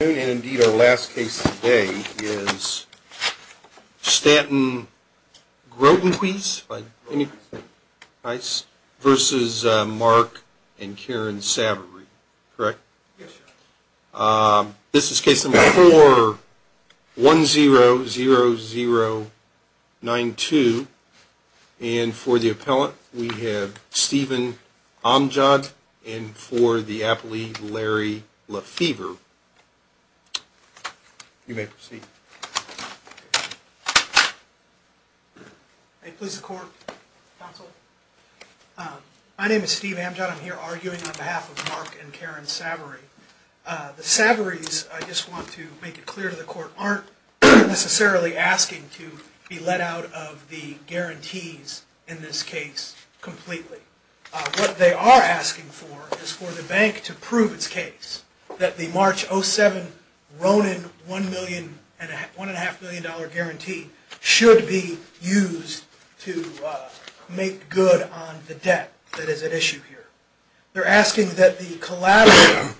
And indeed our last case today is Stanton Grotenhuis v. Mark and Karen Savoree, correct? Yes, sir. This is case number 4-100092. And for the appellant, we have Stephen Amjad and for the appellee, Larry Lefevre. You may proceed. May it please the Court, Counsel? My name is Steve Amjad. I'm here arguing on behalf of Mark and Karen Savoree. The Savorees, I just want to make it clear to the Court, aren't necessarily asking to be let out of the guarantees in this case completely. What they are asking for is for the bank to prove its case that the March 07 Ronin $1.5 million guarantee should be used to make good on the debt that is at issue here. They're asking that the collateral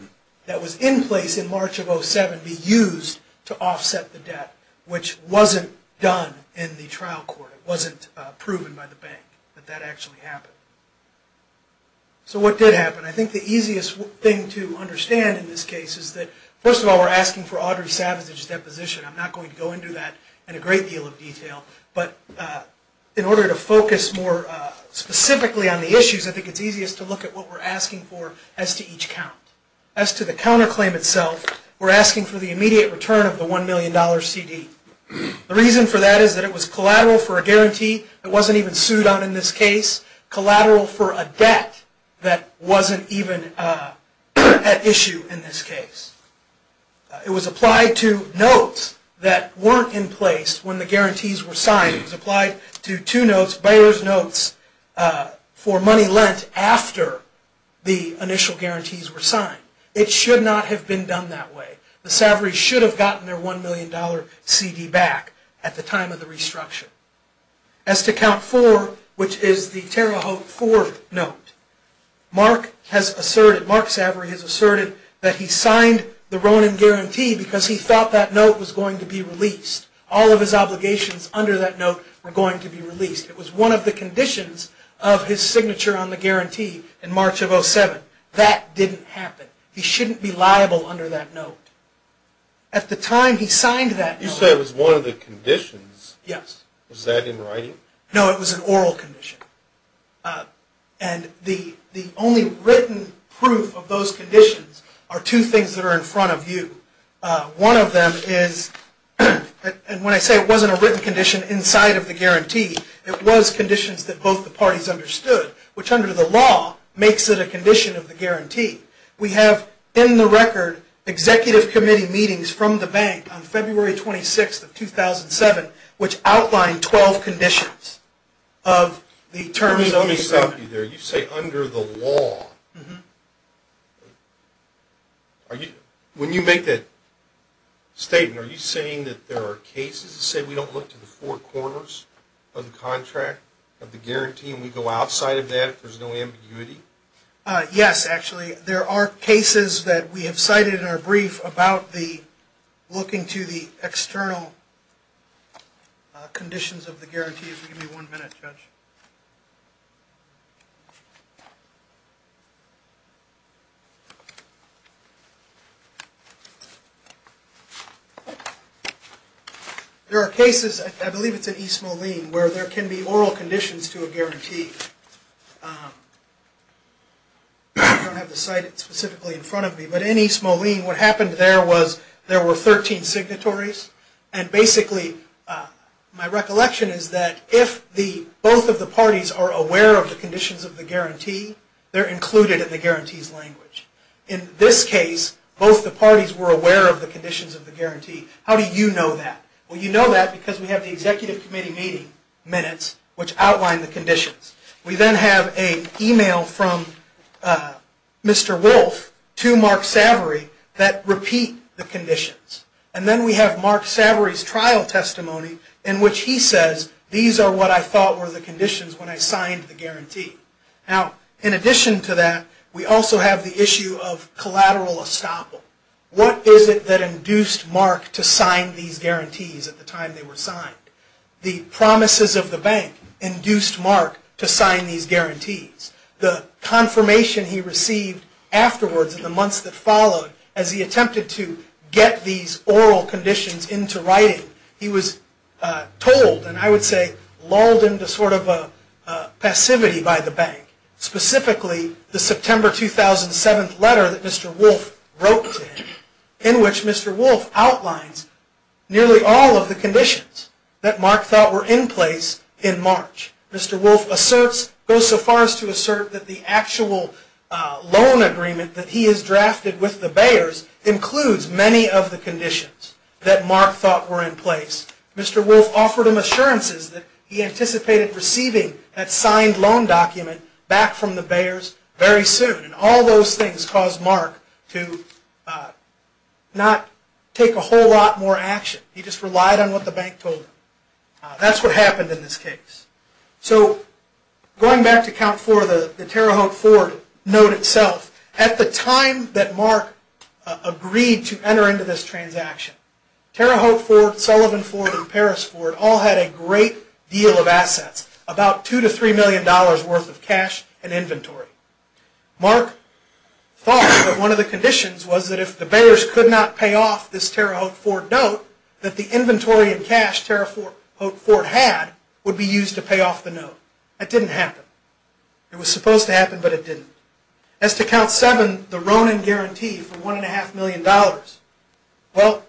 that was in place in March of 07 be used to offset the debt, which wasn't done in the trial court. It wasn't proven by the bank that that actually happened. So what did happen? I think the easiest thing to understand in this case is that first of all, we're asking for Audrey Savage's deposition. I'm not going to go into that in a great deal of detail. But in order to focus more specifically on the issues, I think it's easiest to look at what we're asking for as to each count. As to the counterclaim itself, we're asking for the immediate return of the $1 million CD. The reason for that is that it was collateral for a guarantee that wasn't even sued on in this case. Collateral for a debt that wasn't even at issue in this case. It was applied to notes that weren't in place when the guarantees were signed. It was applied to two notes, buyer's notes, for money lent after the initial guarantees were signed. It should not have been done that way. The Savary's should have gotten their $1 million CD back at the time of the restructuring. As to count 4, which is the Terre Haute 4 note, Mark Savary has asserted that he signed the Ronin guarantee because he thought that note was going to be released. All of his obligations under that note were going to be released. It was one of the conditions of his signature on the guarantee in March of 07. That didn't happen. He shouldn't be liable under that note. At the time he signed that note... Was that in writing? No, it was an oral condition. The only written proof of those conditions are two things that are in front of you. One of them is, and when I say it wasn't a written condition inside of the guarantee, it was conditions that both the parties understood, which under the law makes it a condition of the guarantee. We have, in the record, executive committee meetings from the bank on February 26, 2007, which outlined 12 conditions of the terms of the agreement. Let me stop you there. You say under the law. When you make that statement, are you saying that there are cases that say we don't look to the four corners of the contract, of the guarantee, and we go outside of that if there's no ambiguity? Yes, actually. There are cases that we have cited in our brief about the looking to the external conditions of the guarantee. If you give me one minute, Judge. There are cases, I believe it's in East Moline, where there can be oral conditions to a guarantee. I don't have the site specifically in front of me, but in East Moline, what happened there was there were 13 signatories, and basically, my recollection is that if both the parties agreed that there were 13 signatories, if both of the parties are aware of the conditions of the guarantee, they're included in the guarantee's language. In this case, both the parties were aware of the conditions of the guarantee. How do you know that? Well, you know that because we have the executive committee meeting minutes, which outline the conditions. We then have an email from Mr. Wolf to Mark Savory that repeat the conditions. And then we have Mark Savory's trial testimony in which he says, these are what I thought were the conditions when I signed the guarantee. Now, in addition to that, we also have the issue of collateral estoppel. What is it that induced Mark to sign these guarantees at the time they were signed? The promises of the bank induced Mark to sign these guarantees. The confirmation he received afterwards, in the months that followed, as he attempted to get these oral conditions into writing, he was told, and I would say lulled into sort of a passivity by the bank, specifically the September 2007 letter that Mr. Wolf wrote to him, in which Mr. Wolf outlines nearly all of the conditions that Mark thought were in place in March. Mr. Wolf goes so far as to assert that the actual loan agreement that he has drafted with the Bayers includes many of the conditions that Mark thought were in place. Mr. Wolf offered him assurances that he anticipated receiving that signed loan document back from the Bayers very soon. And all those things caused Mark to not take a whole lot more action. He just relied on what the bank told him. That's what happened in this case. So going back to Count Ford, the Terre Haute Ford note itself, at the time that Mark agreed to enter into this transaction, Terre Haute Ford, Sullivan Ford, and Paris Ford all had a great deal of assets, about two to three million dollars worth of cash and inventory. Mark thought that one of the conditions was that if the Bayers could not pay off this Terre Haute Ford note, that the inventory and cash Terre Haute Ford had would be used to pay off the note. That didn't happen. It was supposed to happen, but it didn't. As to Count Seven, the Ronin guarantee for one and a half million dollars, well,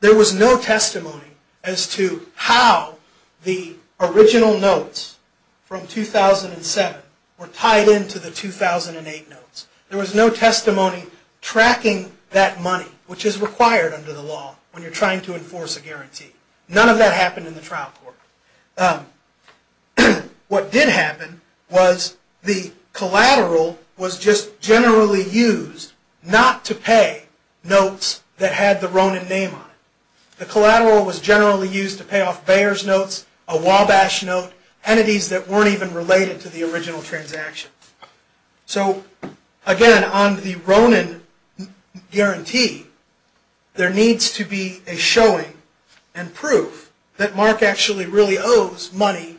there was no testimony as to how the original notes from 2007 were tied into the 2008 notes. There was no testimony tracking that money, which is required under the law when you're trying to enforce a guarantee. None of that happened in the trial court. What did happen was the collateral was just generally used not to pay notes that had the Ronin name on it. The collateral was generally used to pay off Bayers notes, a Wabash note, entities that weren't even related to the original transaction. So, again, on the Ronin guarantee, there needs to be a showing and proof that Mark actually really owes money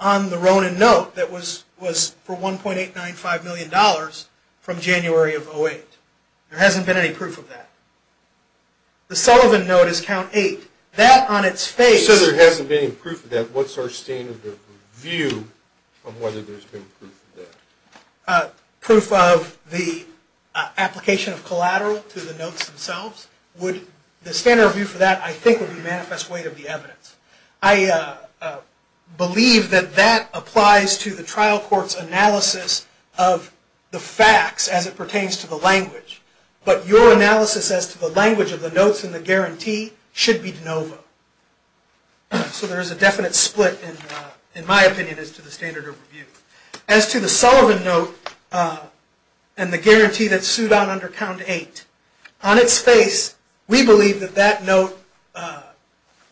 on the Ronin note that was for 1.895 million dollars from January of 2008. There hasn't been any proof of that. The Sullivan note is Count Eight. That on its face... proof of the application of collateral to the notes themselves, the standard review for that, I think, would be manifest weight of the evidence. I believe that that applies to the trial court's analysis of the facts as it pertains to the language. But your analysis as to the language of the notes in the guarantee should be de novo. So there is a definite split, in my opinion, as to the standard of review. As to the Sullivan note and the guarantee that's sued on under Count Eight, on its face, we believe that that note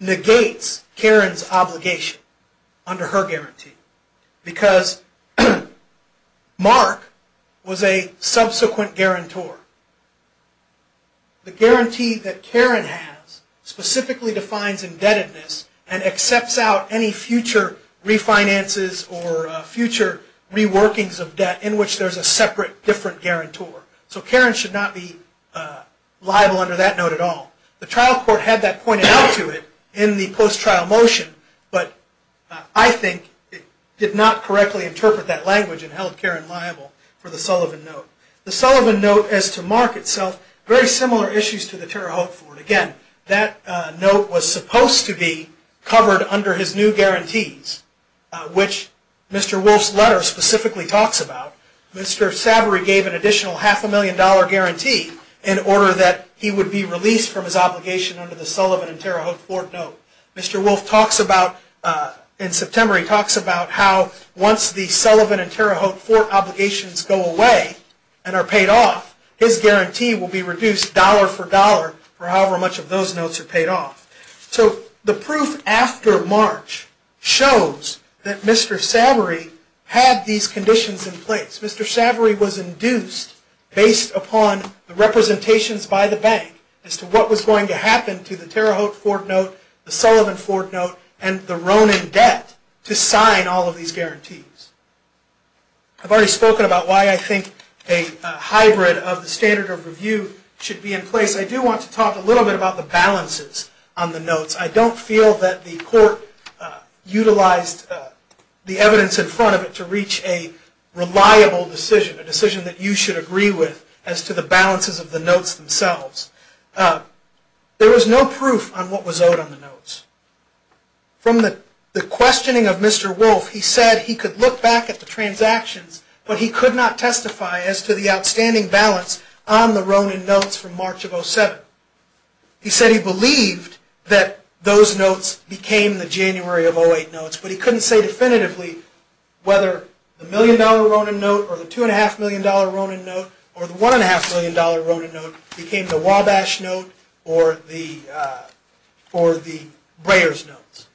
negates Karen's obligation under her guarantee because Mark was a subsequent guarantor. The guarantee that Karen has specifically defines indebtedness and accepts out any future refinances or future reworkings of debt in which there's a separate, different guarantor. So Karen should not be liable under that note at all. The trial court had that pointed out to it in the post-trial motion, but I think it did not correctly interpret that language and held Karen liable for the Sullivan note. The Sullivan note as to Mark itself, very similar issues to the Terre Haute Fort. Again, that note was supposed to be covered under his new guarantees, which Mr. Wolfe's letter specifically talks about. Mr. Savory gave an additional half a million dollar guarantee in order that he would be released from his obligation under the Sullivan and Terre Haute Fort note. Mr. Wolfe talks about, in September, he talks about how once the Sullivan and Terre Haute Fort obligations go away and are paid off, his guarantee will be reduced dollar for dollar for however much of those notes are paid off. So the proof after March shows that Mr. Savory had these conditions in place. Mr. Savory was induced, based upon the representations by the bank, as to what was going to happen to the Terre Haute Fort note, the Sullivan Fort note, and the Ronan debt to sign all of these guarantees. I've already spoken about why I think a hybrid of the standard of review should be in place. I do want to talk a little bit about the balances on the notes. I don't feel that the court utilized the evidence in front of it to reach a reliable decision, a decision that you should agree with as to the balances of the notes themselves. There was no proof on what was owed on the notes. From the questioning of Mr. Wolfe, he said he could look back at the transactions, but he could not testify as to the outstanding balance on the Ronan notes from March of 07. He said he believed that those notes became the January of 08 notes, but he couldn't say definitively whether the $1 million Ronan note or the $2.5 million Ronan note or the $1.5 million Ronan note became the Wabash note or the Breyer's notes.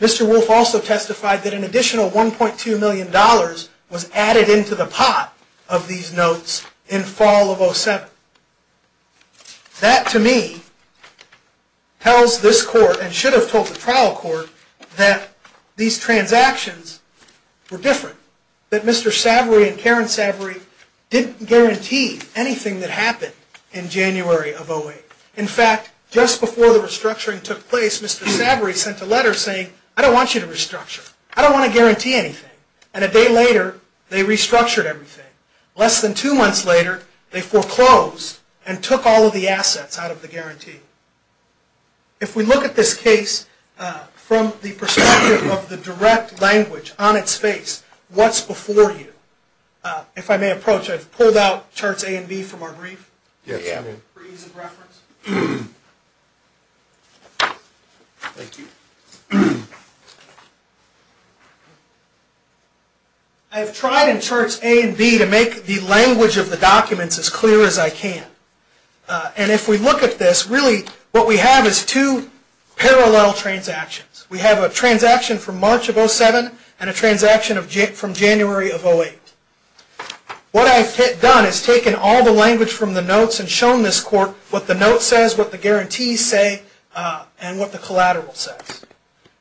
Mr. Wolfe also testified that an additional $1.2 million was added into the pot of these notes in fall of 07. That, to me, tells this court and should have told the trial court that these transactions were different, that Mr. Savory and Karen Savory didn't guarantee anything that happened in January of 08. In fact, just before the restructuring took place, Mr. Savory sent a letter saying, I don't want you to restructure. I don't want to guarantee anything. And a day later, they restructured everything. Less than two months later, they foreclosed and took all of the assets out of the guarantee. If we look at this case from the perspective of the direct language on its face, what's before you? If I may approach, I've pulled out charts A and B from our brief. For ease of reference. Thank you. I've tried in charts A and B to make the language of the documents as clear as I can. And if we look at this, really what we have is two parallel transactions. We have a transaction from March of 07 and a transaction from January of 08. What I've done is taken all the language from the notes and shown this court what the note says, what the guarantees say, and what the collateral says.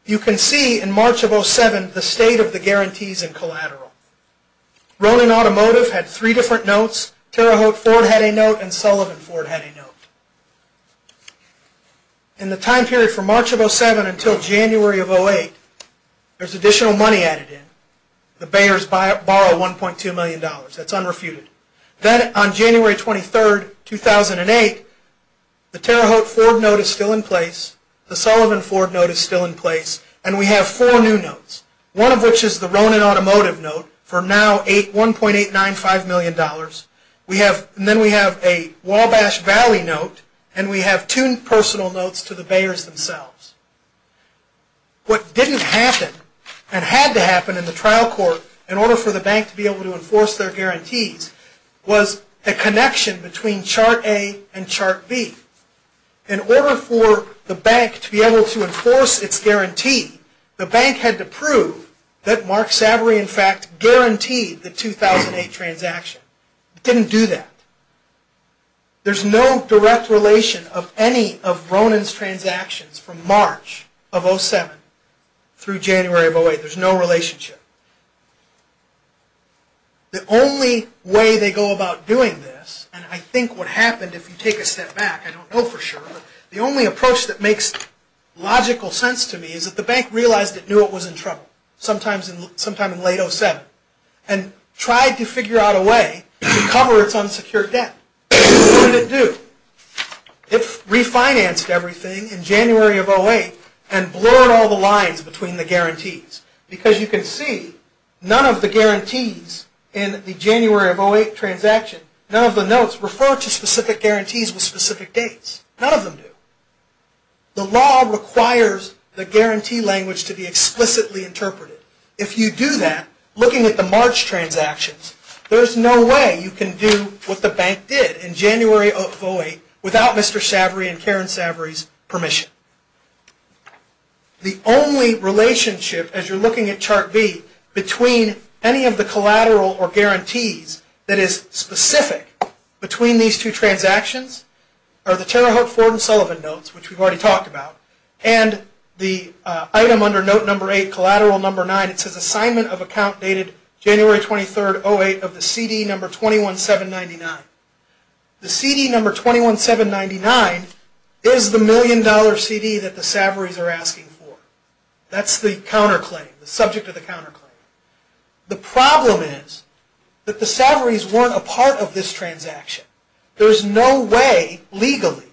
You can see in March of 07 the state of the guarantees and collateral. Ronan Automotive had three different notes. Terre Haute Ford had a note and Sullivan Ford had a note. In the time period from March of 07 until January of 08, there's additional money added in. The Bayers borrow $1.2 million. That's unrefuted. Then on January 23, 2008, the Terre Haute Ford note is still in place, the Sullivan Ford note is still in place, and we have four new notes. One of which is the Ronan Automotive note for now $1.895 million. Then we have a Wabash Valley note, and we have two personal notes to the Bayers themselves. What didn't happen and had to happen in the trial court in order for the bank to be able to enforce their guarantees was a connection between Chart A and Chart B. In order for the bank to be able to enforce its guarantee, the bank had to prove that Mark Savory in fact guaranteed the 2008 transaction. It didn't do that. There's no direct relation of any of Ronan's transactions from March of 07 through January of 08. There's no relationship. The only way they go about doing this, and I think what happened if you take a step back, I don't know for sure, but the only approach that makes logical sense to me is that the bank realized it knew it was in trouble, sometime in late 07, and tried to figure out a way to cover its unsecured debt. What did it do? It refinanced everything in January of 08 and blurred all the lines between the guarantees because you can see none of the guarantees in the January of 08 transaction, none of the notes refer to specific guarantees with specific dates. None of them do. The law requires the guarantee language to be explicitly interpreted. If you do that, looking at the March transactions, there's no way you can do what the bank did in January of 08 without Mr. Savory and Karen Savory's permission. The only relationship, as you're looking at chart B, between any of the collateral or guarantees that is specific between these two transactions are the Terre Haute Ford and Sullivan notes, which we've already talked about, and the item under note number 8, collateral number 9, it says assignment of account dated January 23, 08, of the CD number 21,799. The CD number 21,799 is the million dollar CD that the Savory's are asking for. That's the counterclaim, the subject of the counterclaim. The problem is that the Savory's weren't a part of this transaction. There's no way, legally,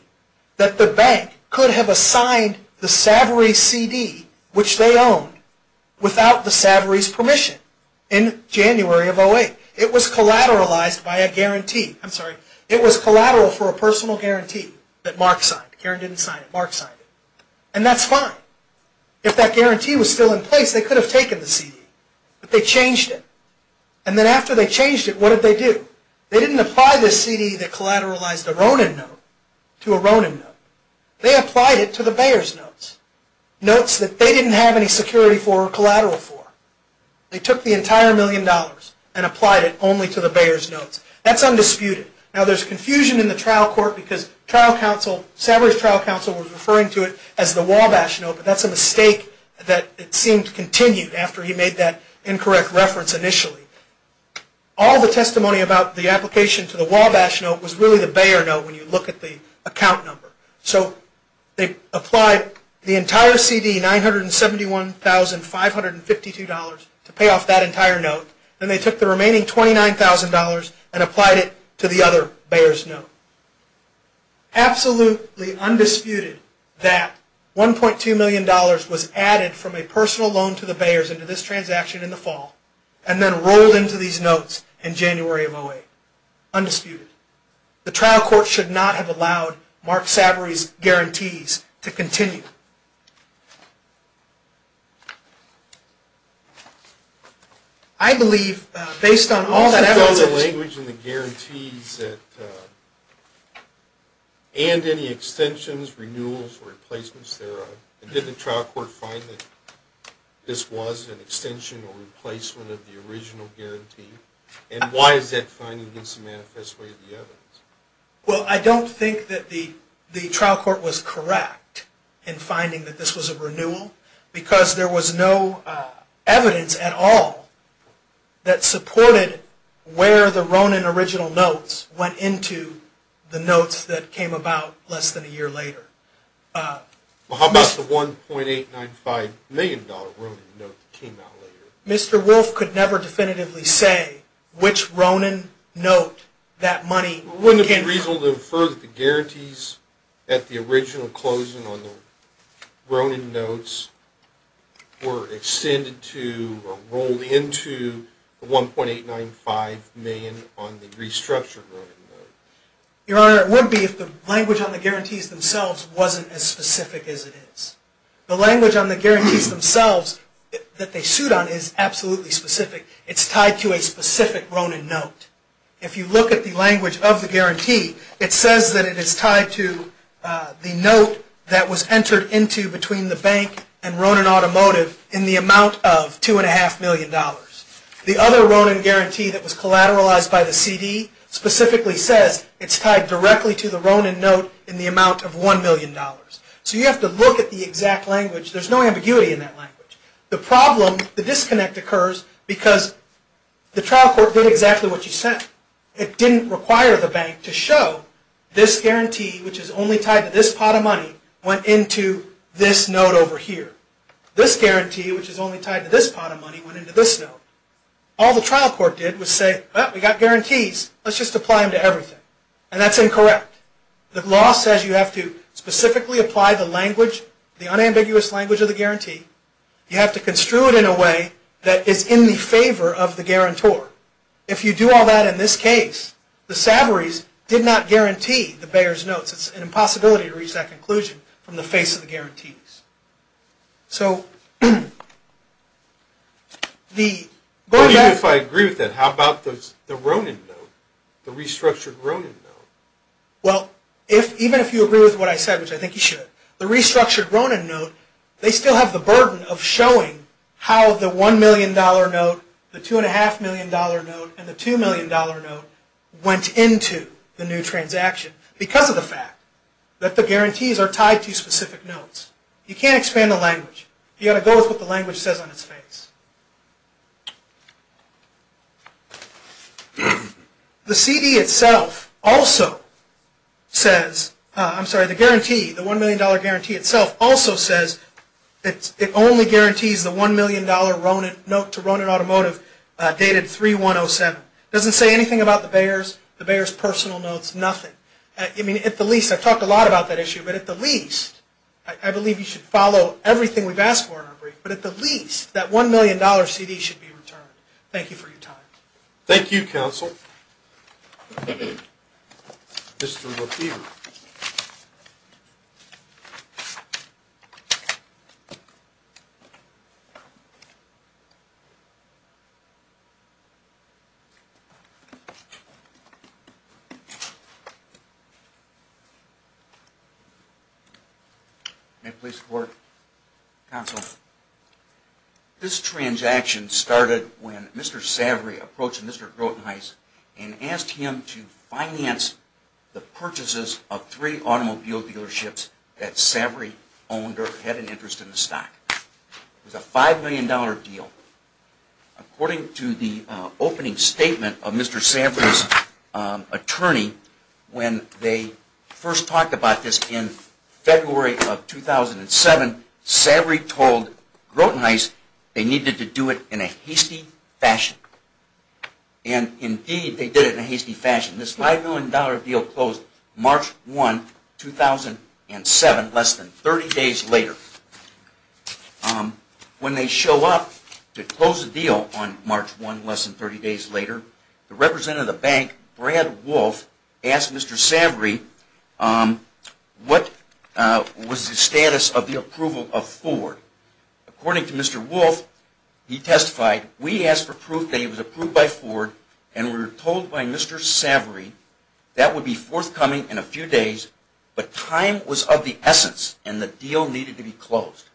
that the bank could have assigned the Savory's CD, which they owned, without the Savory's permission in January of 08. It was collateralized by a guarantee. I'm sorry. It was collateral for a personal guarantee that Mark signed. Karen didn't sign it. Mark signed it. And that's fine. If that guarantee was still in place, they could have taken the CD. But they changed it. And then after they changed it, what did they do? They didn't apply this CD that collateralized a Ronin note to a Ronin note. They applied it to the Bayer's notes, notes that they didn't have any security for or collateral for. They took the entire million dollars and applied it only to the Bayer's notes. That's undisputed. Now, there's confusion in the trial court because trial counsel, Savory's trial counsel was referring to it as the Wabash note, but that's a mistake that it seemed continued after he made that incorrect reference initially. All the testimony about the application to the Wabash note was really the Bayer note when you look at the account number. So they applied the entire CD, $971,552 to pay off that entire note. Then they took the remaining $29,000 and applied it to the other Bayer's note. Absolutely undisputed that $1.2 million was added from a personal loan to the Bayer's into this transaction in the fall and then rolled into these notes in January of 2008. Undisputed. The trial court should not have allowed Mark Savory's guarantees to continue. I believe based on all that evidence. Did you fill the language in the guarantees and any extensions, renewals, or replacements thereof? Did the trial court find that this was an extension or replacement of the original guarantee? And why is that finding against the manifest way of the evidence? Well, I don't think that the trial court was correct in finding that this was a renewal because there was no evidence at all that supported where the Ronin original notes went into the notes that came about less than a year later. How about the $1.895 million Ronin note that came out later? Mr. Wolf could never definitively say which Ronin note that money came from. Wouldn't it be reasonable to infer that the guarantees at the original closing on the Ronin notes were extended to or rolled into the $1.895 million on the restructured Ronin note? Your Honor, it wouldn't be if the language on the guarantees themselves wasn't as specific as it is. The language on the guarantees themselves that they sued on is absolutely specific. It's tied to a specific Ronin note. If you look at the language of the guarantee, it says that it is tied to the note that was entered into between the bank and Ronin Automotive in the amount of $2.5 million. The other Ronin guarantee that was collateralized by the CD specifically says it's tied directly to the Ronin note in the amount of $1 million. So you have to look at the exact language. There's no ambiguity in that language. The problem, the disconnect occurs because the trial court did exactly what you said. It didn't require the bank to show this guarantee, which is only tied to this pot of money, went into this note over here. This guarantee, which is only tied to this pot of money, went into this note. All the trial court did was say, well, we got guarantees. Let's just apply them to everything. And that's incorrect. The law says you have to specifically apply the language, the unambiguous language of the guarantee. You have to construe it in a way that is in the favor of the guarantor. If you do all that in this case, the savories did not guarantee the Bayer's notes. It's an impossibility to reach that conclusion from the face of the guarantees. So the... Even if I agree with that, how about the Ronin note, the restructured Ronin note? Well, even if you agree with what I said, which I think you should, the restructured Ronin note, they still have the burden of showing how the $1 million note, the $2.5 million note, and the $2 million note went into the new transaction because of the fact that the guarantees are tied to specific notes. You can't expand the language. You've got to go with what the language says on its face. The CD itself also says... I'm sorry, the guarantee, the $1 million guarantee itself also says it only guarantees the $1 million note to Ronin Automotive dated 3-1-0-7. It doesn't say anything about the Bayer's, the Bayer's personal notes, nothing. I mean, at the least, I've talked a lot about that issue, but at the least, I believe you should follow everything we've asked for in our brief, but at the least, that $1 million CD should be returned. Thank you for your time. Thank you, Counsel. Thank you, Counsel. Mr. LaFever. May it please the Court, Counsel. This transaction started when Mr. Savory approached Mr. Grotenhuis and asked him to finance the purchases of three automobile dealerships that Savory owned or had an interest in the stock. It was a $5 million deal. According to the opening statement of Mr. Savory's attorney, when they first talked about this in February of 2007, Savory told Grotenhuis they needed to do it in a hasty fashion. And indeed, they did it in a hasty fashion. This $5 million deal closed March 1, 2007, less than 30 days later. When they show up to close the deal on March 1, less than 30 days later, the representative of the bank, Brad Wolf, asked Mr. Savory what was the status of the approval of Ford. According to Mr. Wolf, he testified, we asked for proof that it was approved by Ford and we were told by Mr. Savory that would be forthcoming in a few days, but time was of the essence and the deal needed to be closed.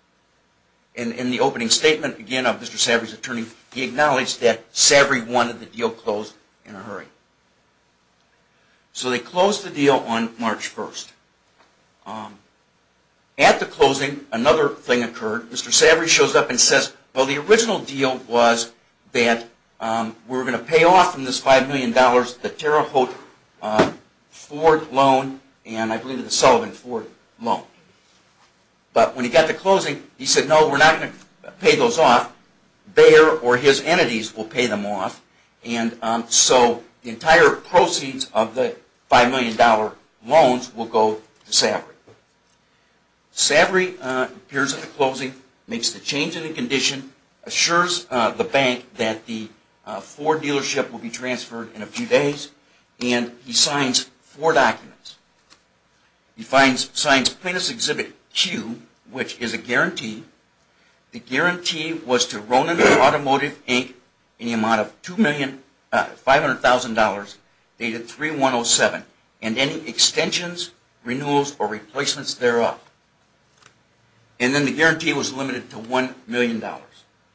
In the opening statement, again, of Mr. Savory's attorney, he acknowledged that Savory wanted the deal closed in a hurry. So they closed the deal on March 1. At the closing, another thing occurred. Mr. Savory shows up and says, well, the original deal was that we were going to pay off from this $5 million the Terre Haute Ford loan and I believe the Sullivan Ford loan. But when he got to closing, he said, no, we're not going to pay those off. Bayer or his entities will pay them off. So the entire proceeds of the $5 million loans will go to Savory. Savory appears at the closing, makes the change in the condition, assures the bank that the Ford dealership will be transferred in a few days, and he signs four documents. He signs Plaintiff's Exhibit Q, which is a guarantee. The guarantee was to Ronan Automotive, Inc., any amount of $500,000 dated 3-1-0-7, and any extensions, renewals, or replacements thereof. And then the guarantee was limited to $1 million,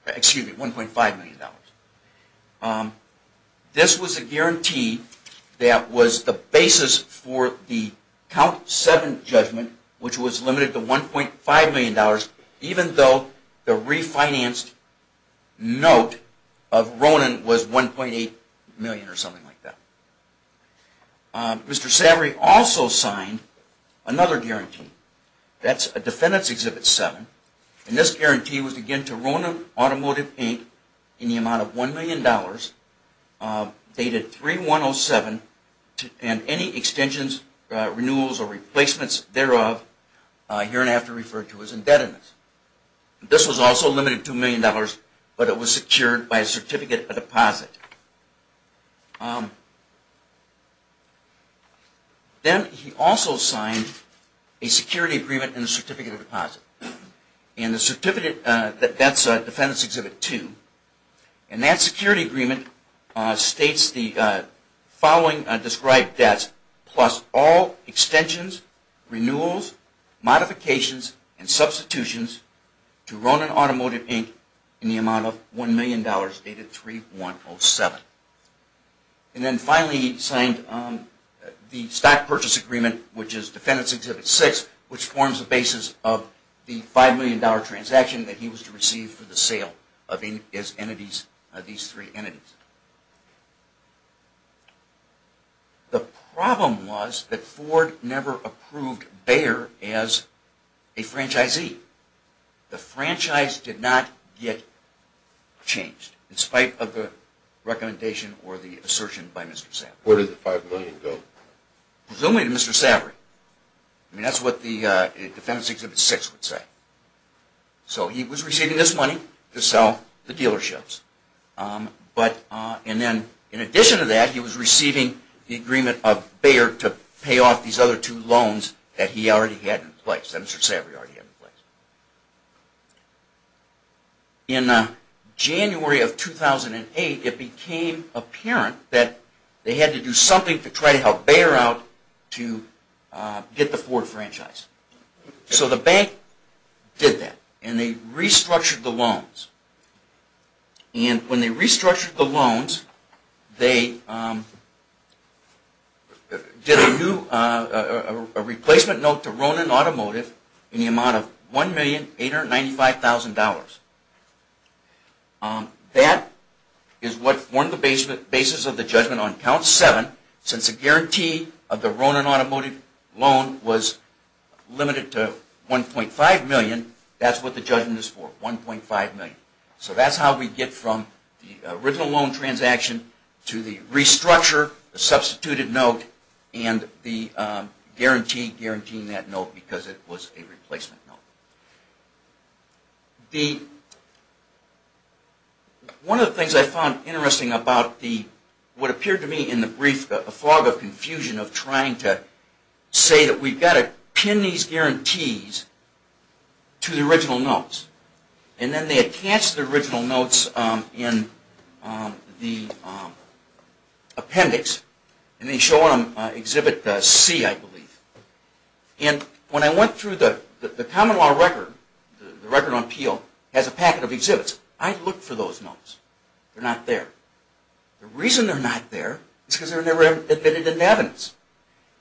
excuse me, $1.5 million. This was a guarantee that was the basis for the Count 7 judgment, which was limited to $1.5 million, even though the refinanced note of Ronan was $1.8 million or something like that. Mr. Savory also signed another guarantee. That's a Defendant's Exhibit 7, and this guarantee was again to Ronan Automotive, Inc., any amount of $1 million, dated 3-1-0-7, and any extensions, renewals, or replacements thereof, here and after referred to as indebtedness. This was also limited to $1 million, but it was secured by a certificate of deposit. Then he also signed a security agreement and a certificate of deposit. And that's Defendant's Exhibit 2. And that security agreement states the following described debts, plus all extensions, renewals, modifications, and substitutions to Ronan Automotive, Inc., in the amount of $1 million, dated 3-1-0-7. And then finally he signed the stock purchase agreement, which is Defendant's Exhibit 6, which forms the basis of the $5 million transaction that he was to receive for the sale of these three entities. The problem was that Ford never approved Bayer as a franchisee. The franchise did not get changed in spite of the recommendation or the assertion by Mr. Savary. Where did the $5 million go? Presumably to Mr. Savary. That's what the Defendant's Exhibit 6 would say. So he was receiving this money to sell the dealerships. In addition to that, he was receiving the agreement of Bayer to pay off these other two loans that he already had in place, that Mr. Savary already had in place. In January of 2008, it became apparent that they had to do something to try to help Bayer out to get the Ford franchise. So the bank did that, and they restructured the loans. And when they restructured the loans, they did a replacement note to Ronin Automotive in the amount of $1,895,000. That is what formed the basis of the judgment on Count 7, since the guarantee of the Ronin Automotive loan was limited to $1.5 million. That's what the judgment is for, $1.5 million. So that's how we get from the original loan transaction to the restructure, the substituted note, and the guarantee guaranteeing that note because it was a replacement note. One of the things I found interesting about what appeared to me in the brief, the fog of confusion of trying to say that we've got to pin these guarantees to the original notes. And then they attached the original notes in the appendix, and they show on Exhibit C, I believe. And when I went through the common law record, the record on Peel, it has a packet of exhibits. I looked for those notes. They're not there. The reason they're not there is because they were never admitted into evidence.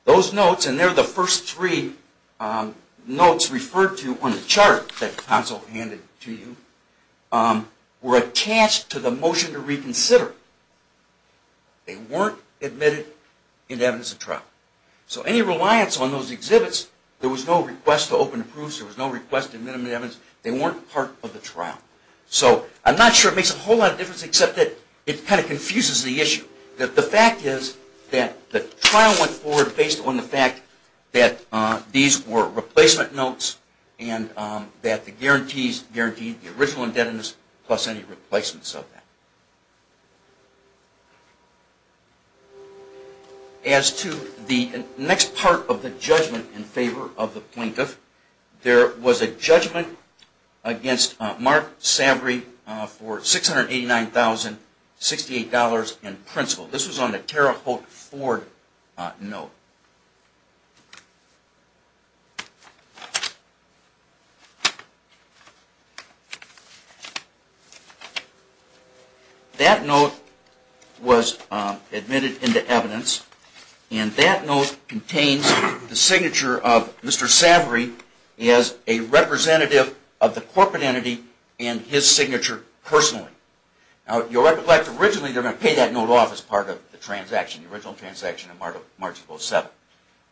Those notes, and they're the first three notes referred to on the chart that Council handed to you, were attached to the motion to reconsider. They weren't admitted into evidence at trial. So any reliance on those exhibits, there was no request to open the proofs. There was no request to admit them into evidence. They weren't part of the trial. So I'm not sure it makes a whole lot of difference except that it kind of confuses the issue. The fact is that the trial went forward based on the fact that these were replacement notes and that the guarantees guaranteed the original indebtedness plus any replacements of that. As to the next part of the judgment in favor of the plaintiff, there was a judgment against Mark Savory for $689,068 in principal. This was on a Tara Holt Ford note. That note was admitted into evidence and that note contains the signature of Mr. Savory as a representative of the corporate entity and his signature personally. Now you'll recollect originally they were going to pay that note off as part of the transaction, the original transaction of March of 07.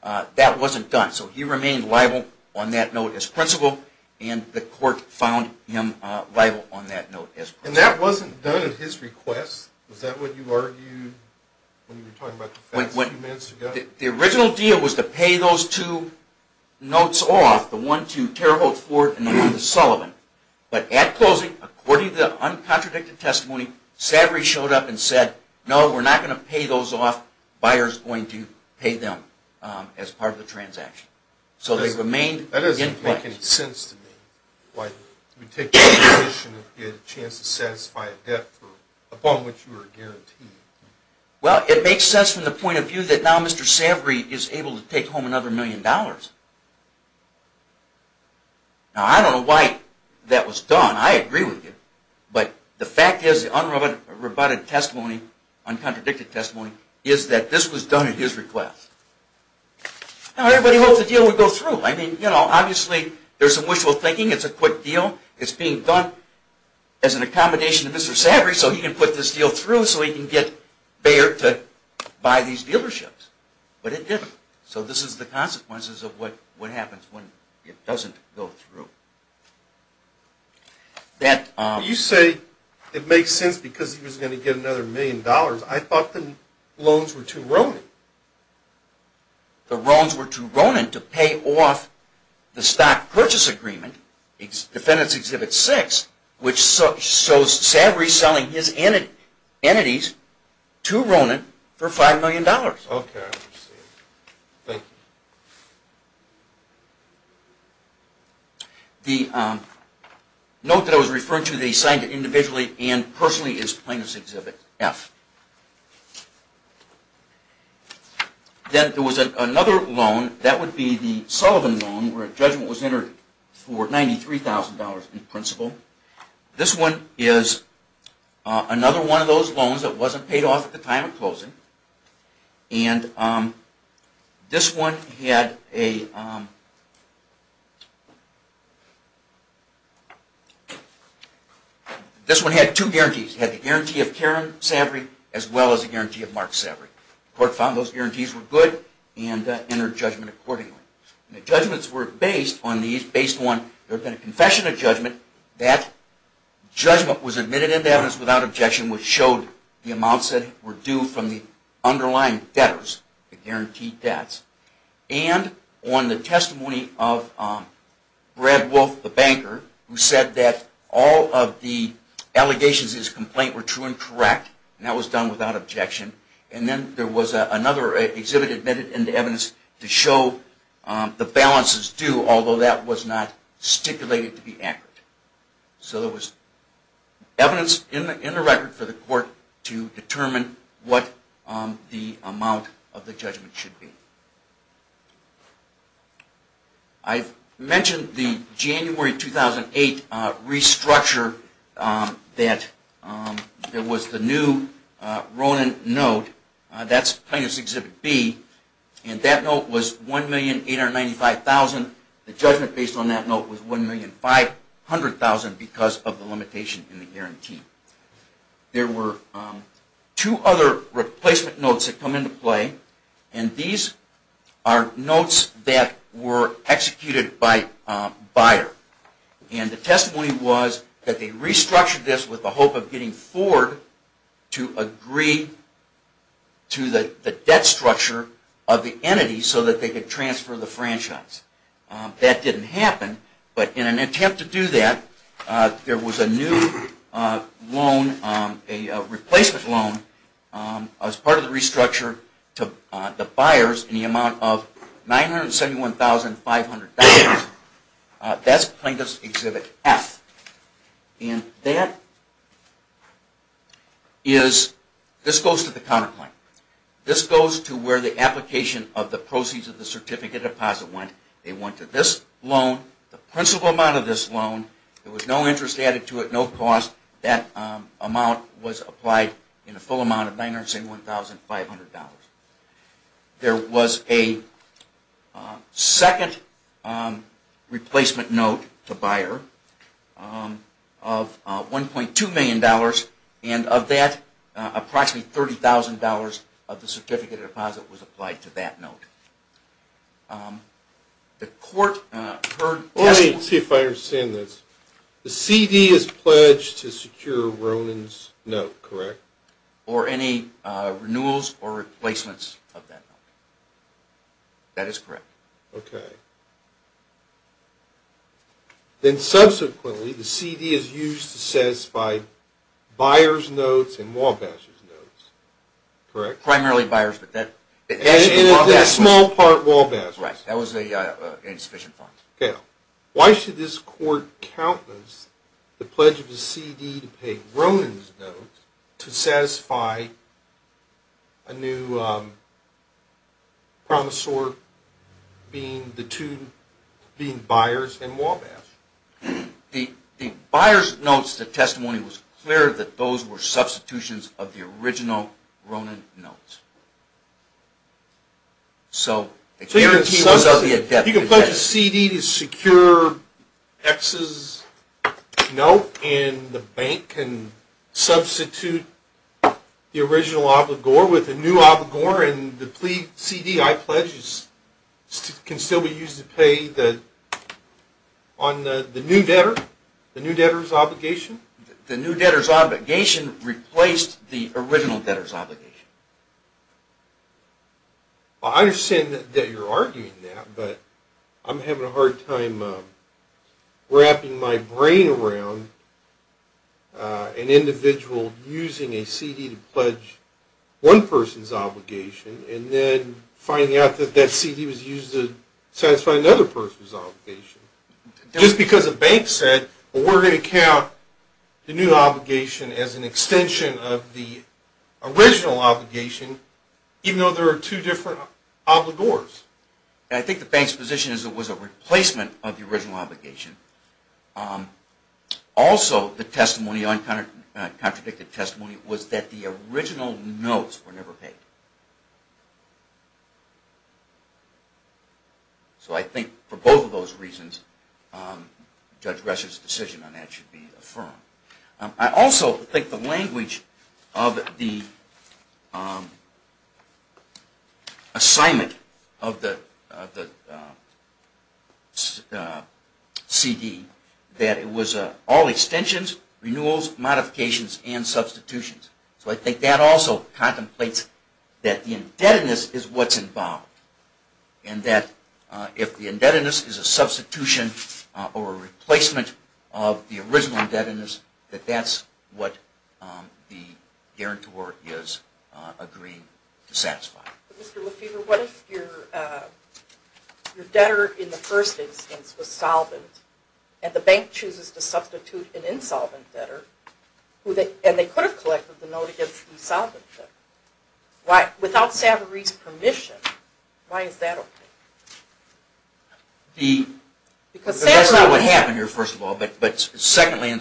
That wasn't done, so he remained liable on that note as principal and the court found him liable on that note as principal. The original deal was to pay those two notes off, the one to Tara Holt Ford and the one to Sullivan. But at closing, according to the uncontradicted testimony, Savory showed up and said, no, we're not going to pay those off, the buyer is going to pay them as part of the transaction. Well, it makes sense from the point of view that now Mr. Savory is able to take home another million dollars. Now I don't know why that was done, I agree with you, but the fact is, the unroboted testimony, uncontradicted testimony, is that this was done at his request. Now everybody hoped the deal would go through. Obviously there's some wishful thinking, it's a quick deal, it's being done as an accommodation to Mr. Savory so he can put this deal through so he can get Bayer to buy these dealerships, but it didn't. So this is the consequences of what happens when it doesn't go through. You say it makes sense because he was going to get another million dollars, I thought the loans were too ronin. The loans were too ronin to pay off the stock purchase agreement, which shows Savory selling his entities to Ronin for five million dollars. The note that I was referring to, they signed it individually and personally as plaintiff's exhibit F. Then there was another loan, that would be the Sullivan loan, where a judgment was entered for $93,000 in principle. This one is another one of those loans that wasn't paid off at the time of closing. This one had two guarantees. It had the guarantee of Karen Savory as well as the guarantee of Mark Savory. The court found those guarantees were good and entered judgment accordingly. The judgments were based on the confession of judgment. That judgment was admitted into evidence without objection, which showed the amounts that were due from the underlying debtors, the guaranteed debts. And on the testimony of Brad Wolf, the banker, who said that all of the allegations in his complaint were true and correct. That was done without objection. Then there was another exhibit admitted into evidence to show the balances due, although that was not stipulated to be accurate. So there was evidence in the record for the court to determine what the amount of the judgment should be. I mentioned the January 2008 restructure. There was the new Ronin note. That's plaintiff's exhibit B and that note was $1,895,000. The judgment based on that note was $1,500,000 because of the limitation in the guarantee. There were two other replacement notes that come into play. These are notes that were executed by Bayer. The testimony was that they restructured this with the hope of getting Ford to agree to the debt structure of the entity so that they could transfer the franchise. That didn't happen, but in an attempt to do that, there was a new loan, a replacement loan, as part of the restructure to the Bayers in the amount of $971,500. That's plaintiff's exhibit F. This goes to the counterclaim. This goes to where the application of the proceeds of the certificate deposit went. They went to this loan, the principal amount of this loan. There was no interest added to it, no cost. That amount was applied in a full amount of $971,500. There was a second replacement note to Bayer of $1.2 million. Of that, approximately $30,000 of the certificate deposit was applied to that note. Let me see if I understand this. The CD is pledged to secure Ronan's note, correct? Or any renewals or replacements of that note. That is correct. Subsequently, the CD is used to satisfy Bayer's notes and Walbash's notes, correct? Primarily Bayer's notes. And in a small part, Walbash's notes. Why should this court countenance the pledge of the CD to pay Ronan's notes to satisfy a new promissory note being Bayer's and Walbash's? In Bayer's notes, the testimony was clear that those were substitutions of the original Ronan's notes. You can pledge a CD to secure X's note and the bank can substitute the original obligor with a new obligor and the CD I pledge can still be used to pay the new debtor's obligation? The new debtor's obligation replaced the original debtor's obligation. I understand that you're arguing that, but I'm having a hard time wrapping my brain around an individual using a CD to pledge one person's obligation and then finding out that that CD was used to satisfy another person's obligation. Just because a bank said, well, we're going to count the new obligation as an extension of the original obligation, even though there are two different obligors. I think the bank's position is it was a replacement of the original obligation. Also, the contradicted testimony was that the original notes were never paid. So I think for both of those reasons, Judge Gress's decision on that should be affirmed. I also think the language of the assignment of the CD that it was all extensions, renewals, modifications, and substitutions. I think that also contemplates that the indebtedness is what's involved and that if the indebtedness is a substitution or a replacement of the original indebtedness, that that's what the guarantor is agreeing to satisfy. What if your debtor in the first instance was an insolvent debtor and they could have collected the note against the insolvent debtor? Without Savaree's permission, why is that okay? That's not what happened here, first of all. There may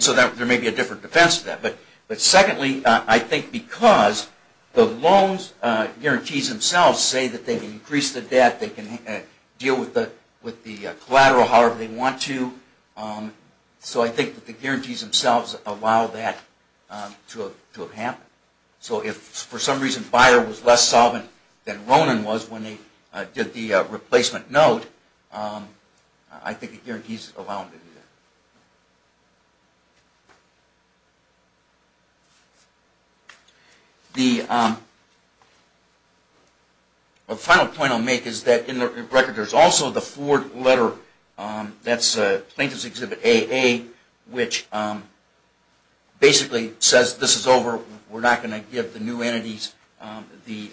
be a different defense to that. But secondly, I think because the loan guarantees themselves say that they can increase the debt, they can deal with the collateral however they want to. So I think that the guarantees themselves allow that to have happened. So if for some reason Bayer was less solvent than Ronan was when they did the replacement note, I think the guarantees allow them to do that. The final point I'll make is that in the record there's also the Ford letter, that's Plaintiff's Exhibit AA, which basically says this is over. We're not going to give the new entities the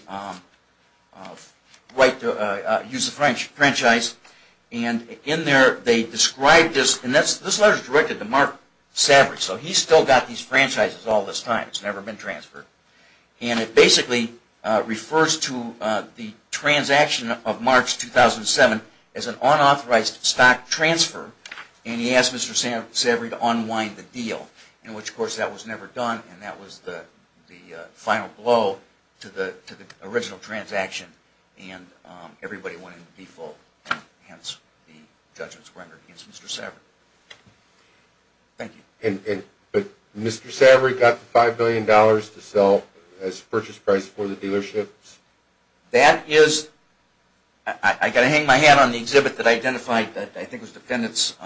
right to use the franchise. This letter is directed to Mark Savaree, so he's still got these franchises all this time. It's never been transferred. It basically refers to the transaction of March 2007 as an unauthorized stock transfer and he asked Mr. Savaree to unwind the deal, which of course that was never done and that was the final blow to the original transaction and everybody went into default, hence the judgments rendered against Mr. Savaree. Thank you. But Mr. Savaree got the $5 million to sell as purchase price for the dealerships? That is, I've got to hang my hat on the exhibit that I identified, I think it was Dependents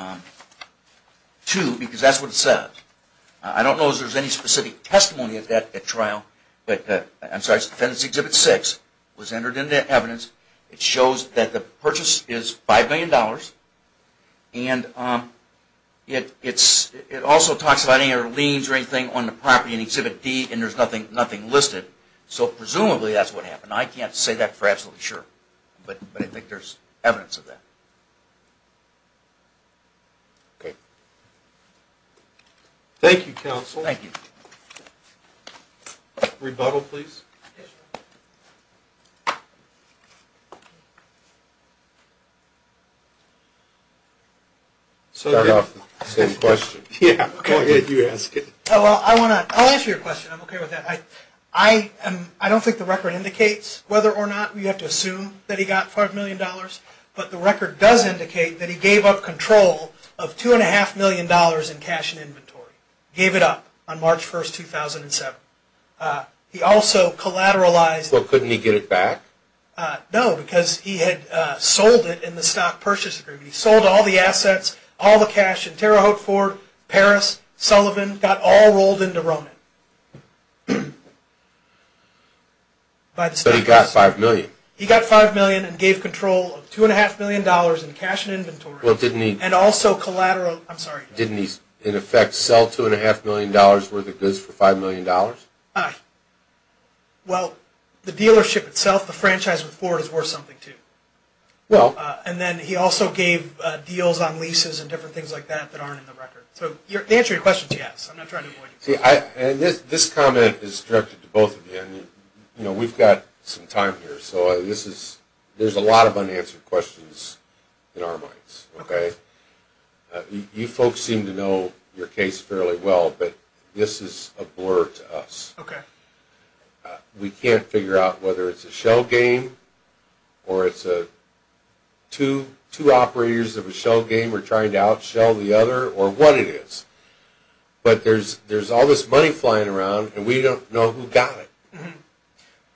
II, because that's what it says. I don't know if there's any specific testimony of that at trial, but I'm sorry, it's Dependents Exhibit VI. It was entered into evidence. It shows that the purchase is $5 million and it also talks about any other liens or anything on the property in Exhibit D and there's nothing listed, so presumably that's what happened. I can't say that for sure. Thank you, Counsel. Rebuttal, please. I'll answer your question, I'm okay with that. I don't think the record indicates whether or not he gave up $5 million, but the record does indicate that he gave up control of $2.5 million in cash and inventory. He gave it up on March 1, 2007. He also collateralized... Couldn't he get it back? No, because he had sold it in the stock purchase agreement. He sold all the assets, all the cash in Terre Haute Fort, Paris, Sullivan, got all rolled into Roman. But he got $5 million. He got $5 million and gave control of $2.5 million in cash and inventory. Didn't he in effect sell $2.5 million worth of goods for $5 million? Well, the dealership itself, the franchise with Ford is worth something too. And then he also gave deals on leases and mortgages. The answer to your question is yes. I'm not trying to avoid it. This comment is directed to both of you. We've got some time here, so there's a lot of unanswered questions in our minds. You folks seem to know your case fairly well, but this is a blur to us. We can't figure out whether it's a shell game or it's two operators of a shell game are trying to out-shell the other or what it is. But there's all this money flying around and we don't know who got it.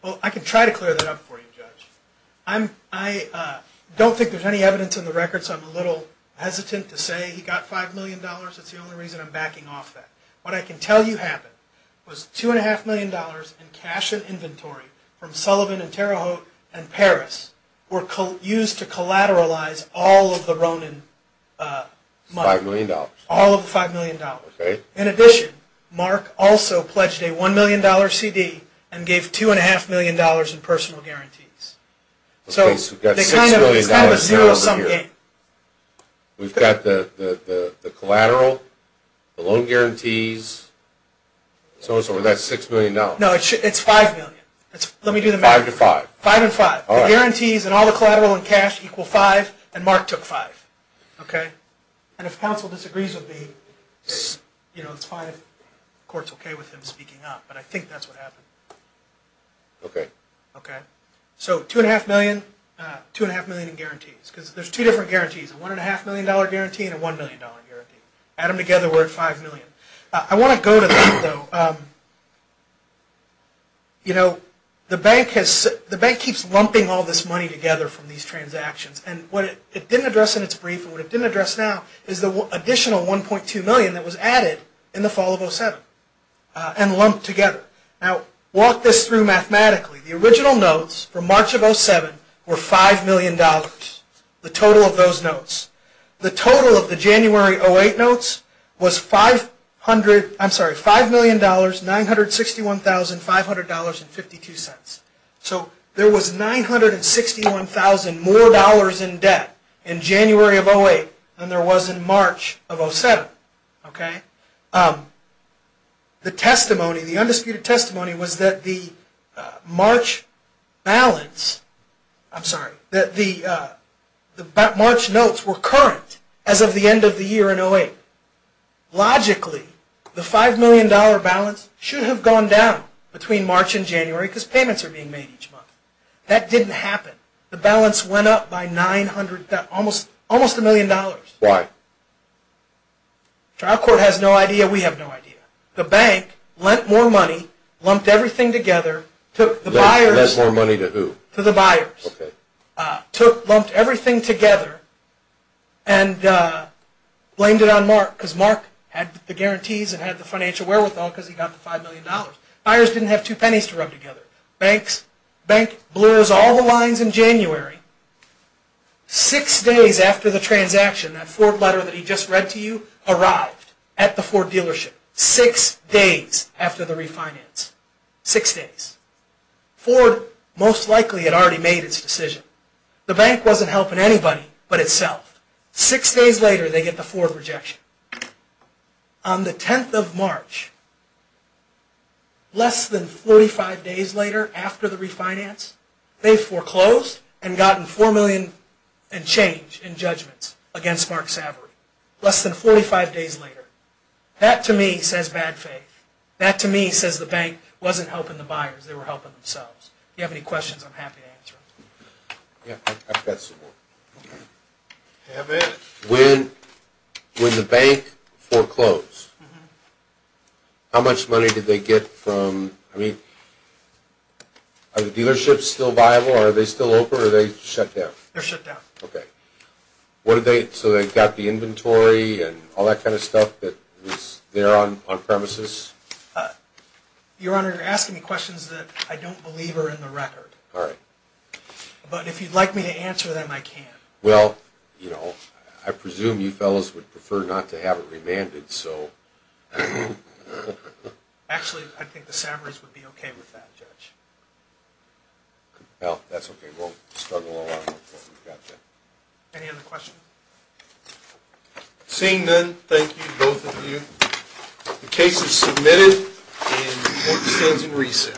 Well, I can try to clear that up for you, Judge. I don't think there's any evidence in the records. I'm a little hesitant to say he got $5 million. It's the only reason I'm backing off that. What I can tell you happened was $2.5 million in cash and inventory from Sullivan and Terre Haute and Paris were used to collateralize all of the Ronin money. $5 million. All of the $5 million. In addition, Mark also pledged a $1 million CD and gave $2.5 million in personal guarantees. So it's kind of a zero-sum game. We've got the collateral, the loan guarantees. So it's over that $6 million. No, it's $5 million. Let me do the math. Five to five. Five and five. The guarantees and all the collateral and cash equal five and Mark took five. And if counsel disagrees with me, it's fine if the court's okay with him speaking up. But I think that's what happened. Okay. So $2.5 million in guarantees. Because there's two different guarantees. A $1.5 million guarantee and a $1 million guarantee. Add them together, we're at $5 million. I want to go to that though. You know, the bank keeps lumping all this money together from these transactions. And what it didn't address in its brief and what it didn't address now is the additional $1.2 million that was added in the fall of 2007 and lumped together. Now, walk this through mathematically. The original notes from March of 2007 were $5 million, the total of those notes. The total of the January 2008 notes was $5 million, $961,500.52. So there was $961,000 more in debt in January of 2008 than there was in March of 2007. Okay. The testimony, the undisputed testimony was that the March balance, I'm sorry, that the March notes were current as of the end of the year in 2008. Logically, the $5 million balance should have gone down between March and January because payments are being made each month. That didn't happen. The balance went up by $900,000, almost $1 million. Why? The trial court has no idea, we have no idea. The bank lent more money, lumped everything together, took the buyers. Lent more money to who? To the buyers. Okay. Lumped everything together and blamed it on Mark because Mark had the guarantees and had the financial wherewithal because he got the $5 million. Buyers didn't have two pennies to rub together. Bank blurs all the lines in January. Six days after the transaction, that Ford letter that he just read to you arrived at the Ford dealership. Six days after the refinance. Six days. Ford most likely had already made its decision. The bank wasn't helping anybody but itself. Six days later, they get the Ford rejection. On the 10th of March, less than 45 days later after the refinance, they foreclosed and gotten $4 million in change in judgments against Mark Savory. Less than 45 days later. That to me says bad faith. That to me says the bank wasn't helping the buyers, they were helping themselves. If you have any questions, I'm happy to answer them. When the bank foreclosed, how much money did they get from, I mean, are the dealerships still viable or are they still open or are they shut down? They're shut down. Okay. So they got the inventory and all that kind of stuff that was there on premises? Your Honor, you're asking me questions that I don't believe are in the record. All right. But if you'd like me to answer them, I can. Well, you know, I presume you fellows would prefer not to have it remanded, so. Actually, I think the Savory's would be okay with that, Judge. Well, that's okay. We'll struggle along until we've got that. Any other questions? Seeing none, thank you, both of you. The case is submitted and court stands in recess.